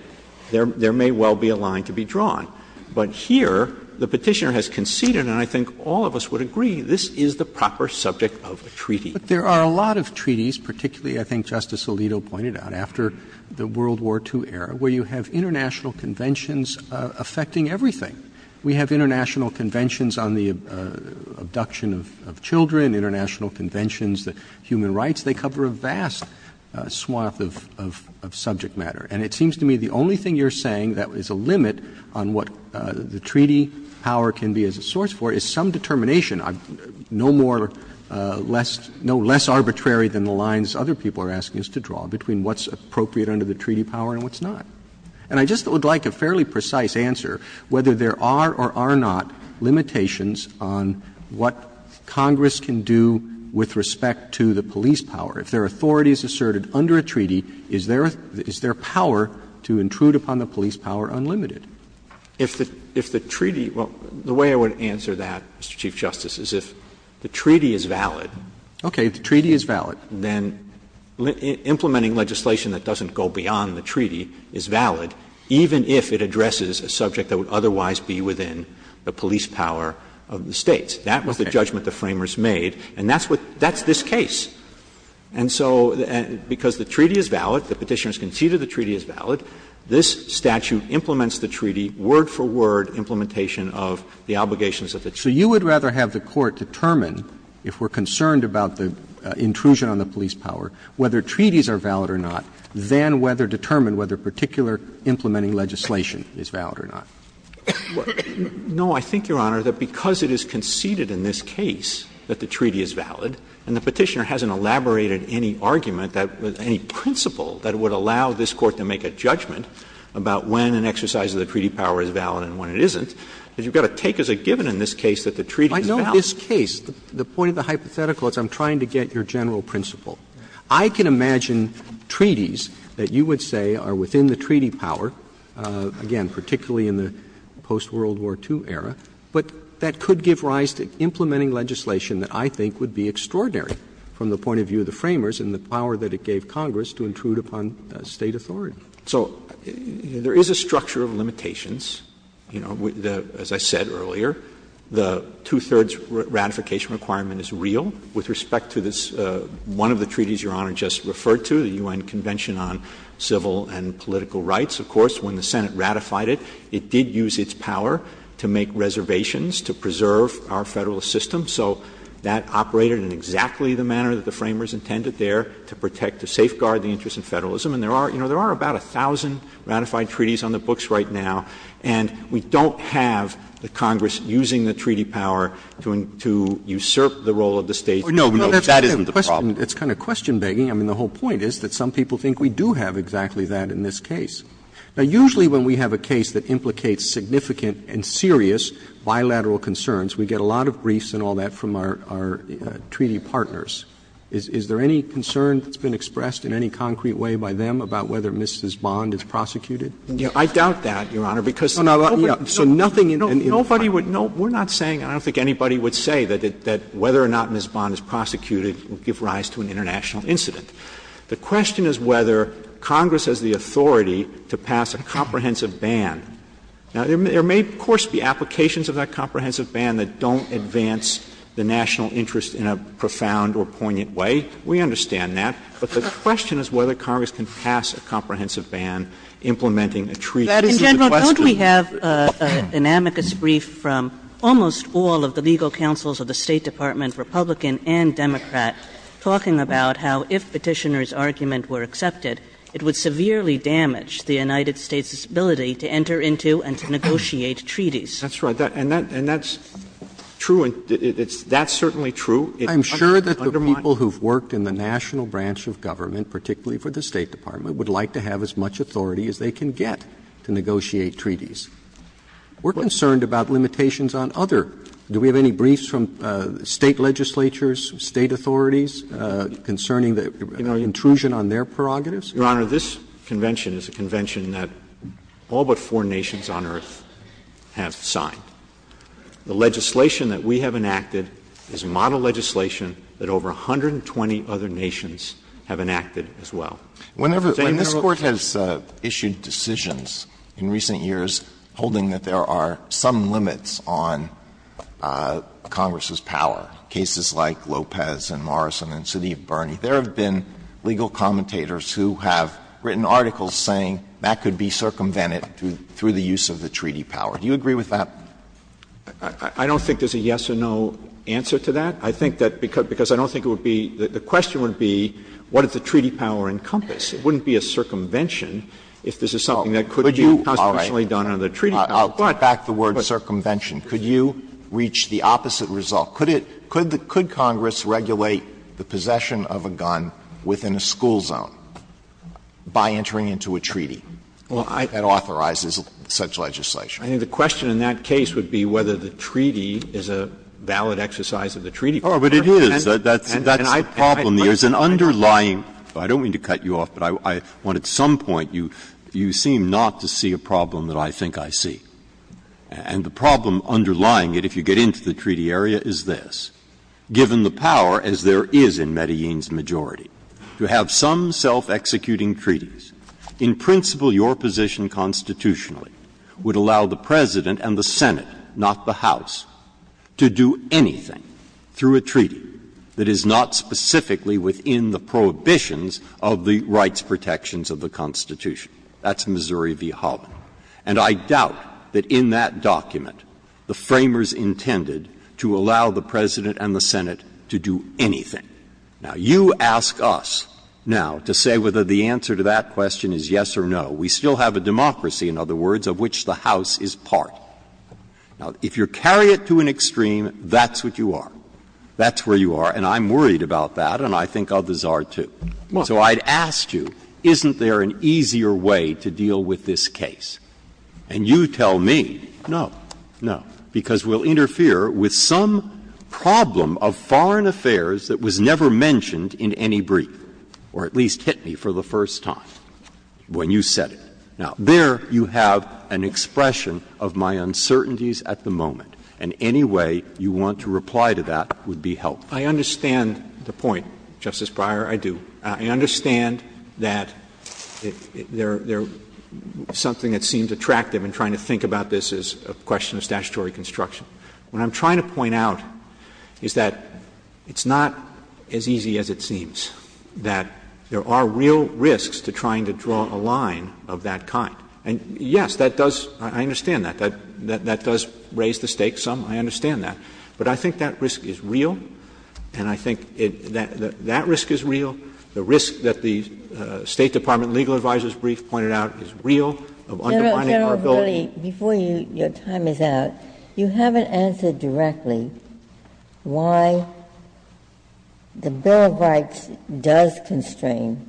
there may well be a line to be drawn. But here, the Petitioner has conceded, and I think all of us would agree, this is the proper subject of a treaty. Roberts. There are a lot of treaties, particularly, I think Justice Alito pointed out, after the World War II era, where you have international conventions affecting everything. We have international conventions on the abduction of children, international conventions, the human rights. They cover a vast swath of subject matter. And it seems to me the only thing you're saying that is a limit on what the treaty power can be as a source for is some determination, no more less – no less arbitrary than the lines other people are asking us to draw between what's appropriate under the treaty power and what's not. And I just would like a fairly precise answer whether there are or are not limitations on what Congress can do with respect to the police power. If their authority is asserted under a treaty, is their – is their power to intrude upon the police power unlimited? If the – if the treaty – well, the way I would answer that, Mr. Chief Justice, is if the treaty is valid. Okay. If the treaty is valid. Then implementing legislation that doesn't go beyond the treaty is valid, even if it addresses a subject that would otherwise be within the police power of the States. That was the judgment the Framers made. And that's what – that's this case. And so because the treaty is valid, the Petitioners conceded the treaty is valid, this statute implements the treaty word for word implementation of the obligations of the treaty. So you would rather have the Court determine, if we're concerned about the intrusion on the police power, whether treaties are valid or not, than whether determine whether particular implementing legislation is valid or not. No, I think, Your Honor, that because it is conceded in this case that the treaty is valid, and the Petitioner hasn't elaborated any argument that – any principle that would allow this Court to make a judgment about when an exercise of the treaty power is valid and when it isn't, you've got to take as a given in this case that the treaty is valid. Roberts I know this case. The point of the hypothetical is I'm trying to get your general principle. I can imagine treaties that you would say are within the treaty power, again, particularly in the post-World War II era, but that could give rise to implementing legislation that I think would be extraordinary from the point of view of the Framers and the power that it gave Congress to intrude upon State authority. So there is a structure of limitations, you know, as I said earlier. The two-thirds ratification requirement is real with respect to this – one of the treaties Your Honor just referred to, the U.N. Convention on Civil and Political Rights. Of course, when the Senate ratified it, it did use its power to make reservations to preserve our Federalist system. So that operated in exactly the manner that the Framers intended there to protect the interest in Federalism, and there are, you know, there are about 1,000 ratified treaties on the books right now, and we don't have the Congress using the treaty power to usurp the role of the State. Roberts No, no, that isn't the problem. Roberts It's kind of question-begging. I mean, the whole point is that some people think we do have exactly that in this case. Now, usually when we have a case that implicates significant and serious bilateral concerns, we get a lot of briefs and all that from our treaty partners. Is there any concern that's been expressed in any concrete way by them about whether Ms. Bond is prosecuted? Verrilli, I doubt that, Your Honor, because nobody would – we're not saying, and I don't think anybody would say, that whether or not Ms. Bond is prosecuted would give rise to an international incident. The question is whether Congress has the authority to pass a comprehensive ban. Now, there may, of course, be applications of that comprehensive ban that don't advance the national interest in a profound or poignant way. We understand that. But the question is whether Congress can pass a comprehensive ban implementing This is the question. Kagan In general, don't we have an amicus brief from almost all of the legal counsels of the State Department, Republican and Democrat, talking about how if Petitioner's argument were accepted, it would severely damage the United States' ability to enter into and to negotiate treaties? Verrilli, That's right. And that's true, and it's – that's certainly true. I'm sure that the people who've worked in the national branch of government, particularly for the State Department, would like to have as much authority as they can get to negotiate treaties. We're concerned about limitations on other. Do we have any briefs from State legislatures, State authorities, concerning the intrusion on their prerogatives? Verrilli, Your Honor, this convention is a convention that all but four nations of the United States on earth have signed. The legislation that we have enacted is model legislation that over 120 other nations have enacted as well. Alito When this Court has issued decisions in recent years holding that there are some limits on Congress's power, cases like Lopez and Morrison and Siddiq Birney, there have been legal commentators who have written articles saying that could be circumvented through the use of the treaty power. Do you agree with that? Verrilli, I don't think there's a yes or no answer to that. I think that because I don't think it would be – the question would be what does the treaty power encompass? It wouldn't be a circumvention if this is something that could be done on the treaty power. Alito I'll back the word circumvention. Could you reach the opposite result? Could it – could Congress regulate the possession of a gun within a school zone by entering into a treaty that authorizes such legislation? Verrilli, I think the question in that case would be whether the treaty is a valid exercise of the treaty power. Breyer Oh, but it is. That's the problem. There's an underlying – I don't mean to cut you off, but I want at some point you – you seem not to see a problem that I think I see. And the problem underlying it, if you get into the treaty area, is this. Given the power, as there is in Medellin's majority, to have some self-executing treaties, in principle your position constitutionally would allow the President and the Senate, not the House, to do anything through a treaty that is not specifically within the prohibitions of the rights protections of the Constitution. That's Missouri v. Holland. And I doubt that in that document the Framers intended to allow the President and the Senate to do anything. Now, you ask us now to say whether the answer to that question is yes or no. We still have a democracy, in other words, of which the House is part. Now, if you carry it to an extreme, that's what you are. That's where you are, and I'm worried about that, and I think others are, too. So I'd ask you, isn't there an easier way to deal with this case? And you tell me, no, no, because we'll interfere with some problem of foreign affairs that was never mentioned in any brief, or at least hit me for the first time when you said it. Now, there you have an expression of my uncertainties at the moment, and any way you want to reply to that would be helpful. I understand the point, Justice Breyer, I do. I understand that there is something that seems attractive in trying to think about this as a question of statutory construction. What I'm trying to point out is that it's not as easy as it seems, that there are real risks to trying to draw a line of that kind. And yes, that does — I understand that. That does raise the stakes some. I understand that. But I think that risk is real, and I think that risk is real. The risk that the State Department legal advisor's brief pointed out is real of undermining our ability. Ginsburg. General Verrilli, before your time is out, you haven't answered directly why the bill of rights does constrain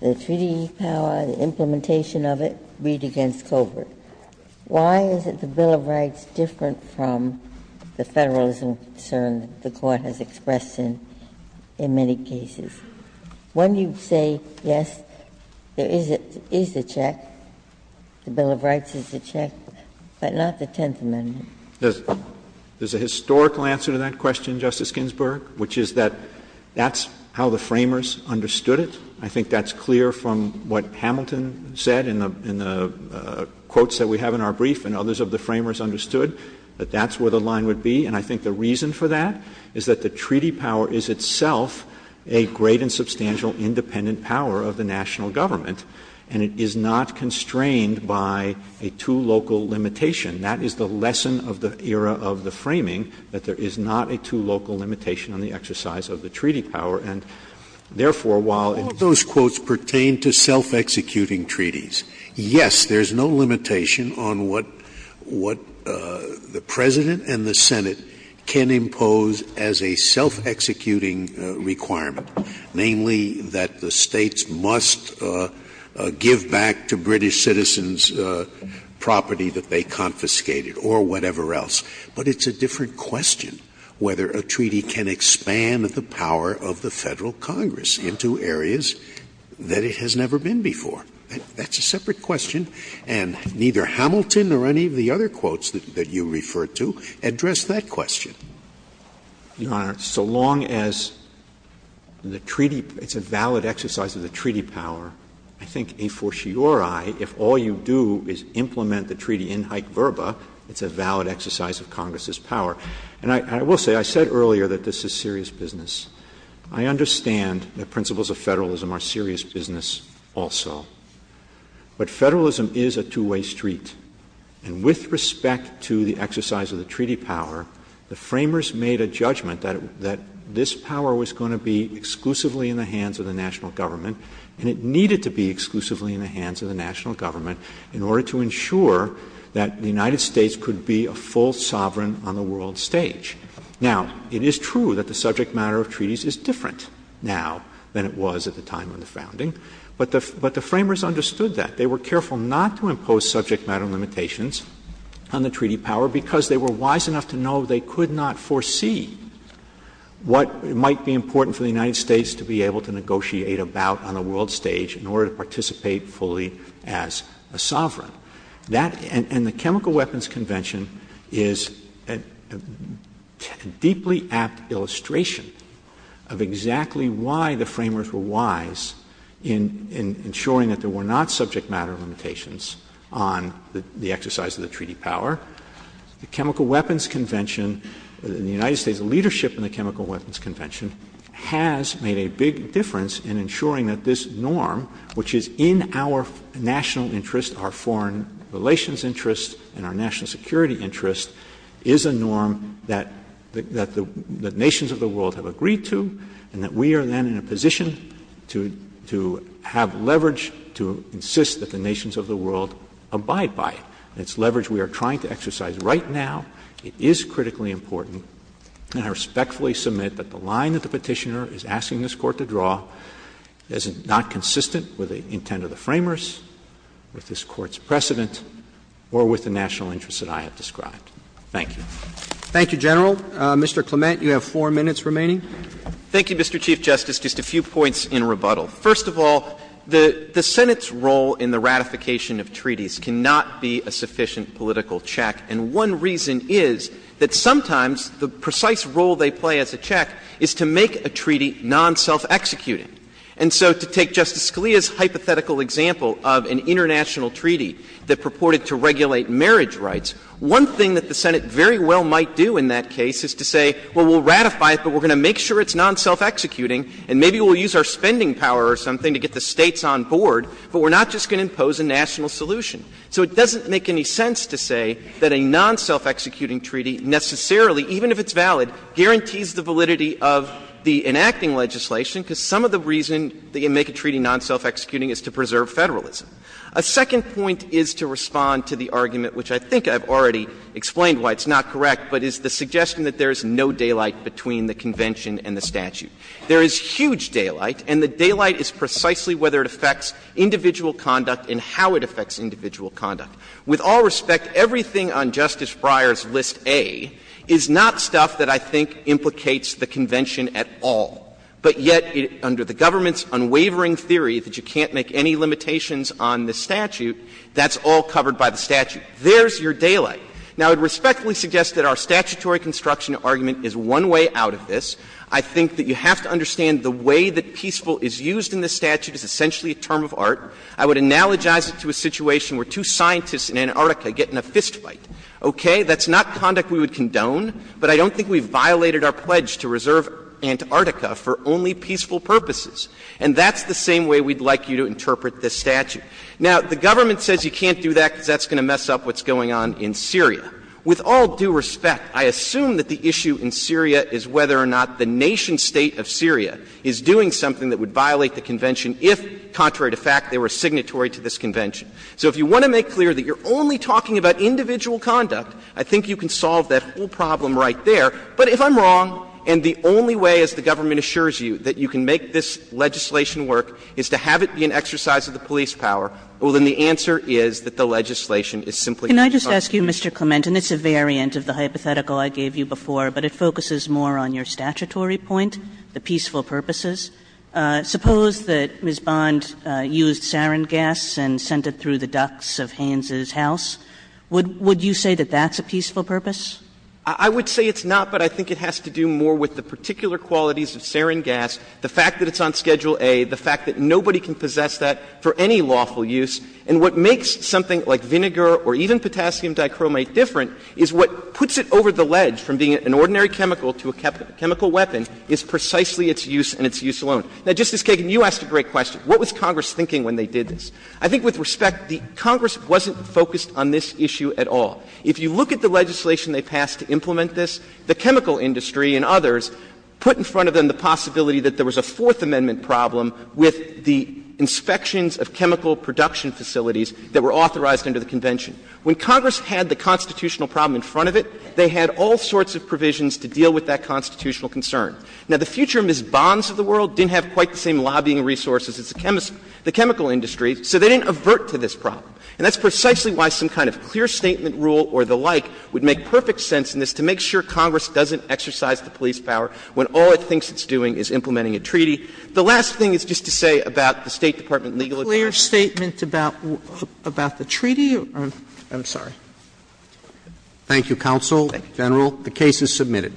the treaty power, the implementation of it, Reed v. Colbert. Why is it the bill of rights different from the Federalism concern that the Court has expressed in many cases? When you say, yes, there is a check, the bill of rights is a check, but not the Tenth Amendment. There's a historical answer to that question, Justice Ginsburg, which is that that's how the framers understood it. I think that's clear from what Hamilton said in the quotes that we have in our brief, and others of the framers understood that that's where the line would be. And I think the reason for that is that the treaty power is itself a great and substantial independent power of the national government, and it is not constrained by a two-local limitation. That is the lesson of the era of the framing, that there is not a two-local limitation on the exercise of the treaty power. And, therefore, while in those quotes pertain to self-executing treaties, yes, there is no limitation on what the President and the Senate can impose as a self-executing requirement, namely that the States must give back to British citizens property that they confiscated or whatever else. But it's a different question whether a treaty can expand the power of the Federal Congress into areas that it has never been before. That's a separate question, and neither Hamilton or any of the other quotes that you refer to address that question. Verrilli, Your Honor, so long as the treaty – it's a valid exercise of the treaty power, I think a fortiori, if all you do is implement the treaty in hike verba, it's a valid exercise of Congress's power. And I will say, I said earlier that this is serious business. I understand that principles of Federalism are serious business also. But Federalism is a two-way street. And with respect to the exercise of the treaty power, the Framers made a judgment that this power was going to be exclusively in the hands of the national government, and it needed to be exclusively in the hands of the national government in order to ensure that the United States could be a full sovereign on the world stage. Now, it is true that the subject matter of treaties is different now than it was at the time of the founding, but the Framers understood that. They were careful not to impose subject matter limitations on the treaty power because they were wise enough to know they could not foresee what might be important for the United States to be able to negotiate about on the world stage in order to participate fully as a sovereign. That — and the Chemical Weapons Convention is a deeply apt illustration of exactly why the Framers were wise in ensuring that there were not subject matter limitations on the exercise of the treaty power. The Chemical Weapons Convention — the United States' leadership in the Chemical Weapons Convention is that this norm, which is in our national interest, our foreign relations interest, and our national security interest, is a norm that — that the nations of the world have agreed to, and that we are then in a position to — to have leverage to insist that the nations of the world abide by it. And it's leverage we are trying to exercise right now. It is critically important, and I respectfully submit that the line that the Petitioner is asking this Court to draw is not consistent with the intent of the Framers, with this Court's precedent, or with the national interest that I have described. Thank you. Roberts. Thank you, General. Mr. Clement, you have 4 minutes remaining. Clement. Thank you, Mr. Chief Justice. Just a few points in rebuttal. First of all, the Senate's role in the ratification of treaties cannot be a sufficient political check, and one reason is that sometimes the precise role they play as a check is to make a treaty non-self-executing. And so to take Justice Scalia's hypothetical example of an international treaty that purported to regulate marriage rights, one thing that the Senate very well might do in that case is to say, well, we'll ratify it, but we're going to make sure it's non-self-executing, and maybe we'll use our spending power or something to get the States on board, but we're not just going to impose a national solution. So it doesn't make any sense to say that a non-self-executing treaty necessarily, even if it's valid, guarantees the validity of the enacting legislation, because some of the reason they make a treaty non-self-executing is to preserve Federalism. A second point is to respond to the argument, which I think I've already explained why it's not correct, but is the suggestion that there is no daylight between the convention and the statute. There is huge daylight, and the daylight is precisely whether it affects individual conduct and how it affects individual conduct. With all respect, everything on Justice Breyer's List A is not stuff that I think implicates the convention at all. But yet, under the government's unwavering theory that you can't make any limitations on the statute, that's all covered by the statute. There's your daylight. Now, I would respectfully suggest that our statutory construction argument is one way out of this. I think that you have to understand the way that peaceful is used in this statute is essentially a term of art. I would analogize it to a situation where two scientists in Antarctica get in a fist fight. Okay? That's not conduct we would condone, but I don't think we've violated our pledge to reserve Antarctica for only peaceful purposes. And that's the same way we'd like you to interpret this statute. Now, the government says you can't do that because that's going to mess up what's going on in Syria. With all due respect, I assume that the issue in Syria is whether or not the nation State of Syria is doing something that would violate the convention if, contrary to fact, they were signatory to this convention. So if you want to make clear that you're only talking about individual conduct, I think you can solve that whole problem right there. But if I'm wrong and the only way, as the government assures you, that you can make this legislation work is to have it be an exercise of the police power, well, then the answer is that the legislation is simply unjustified. Kagan. Kagan. Kagan. Kagan. Kagan. Kagan. Kagan. Kagan. Kagan. Kagan. Kagan. Kagan. Kagan. you say that's a peaceful purpose? I would say it's not, but I think it has to do more with the particular qualities of sarin gas, the fact that it's on Schedule A, the fact that nobody can possess that for any lawful use. And what makes something like vinegar or even potassium dichromate different is what puts it over the ledge, from being an ordinary chemical to a chemical weapon, is precisely its use and its use alone. Now, Justice Kagan, you asked a great question. What was Congress thinking when they did this? I think with respect, Congress wasn't focused on this issue at all. If you look at the legislation they passed to implement this, the chemical industry and others put in front of them the possibility that there was a Fourth Amendment problem with the inspections of chemical production facilities that were authorized under the Convention. When Congress had the constitutional problem in front of it, they had all sorts of provisions to deal with that constitutional concern. Now, the future Ms. Bonds of the world didn't have quite the same lobbying resources as the chemical industry, so they didn't avert to this problem. And that's precisely why some kind of clear statement rule or the like would make perfect sense in this to make sure Congress doesn't exercise the police power when all it thinks it's doing is implementing a treaty. The last thing is just to say about the State Department legal advisers. Sotomayor, about the treaty. I'm sorry. Roberts. Thank you, counsel. General, the case is submitted.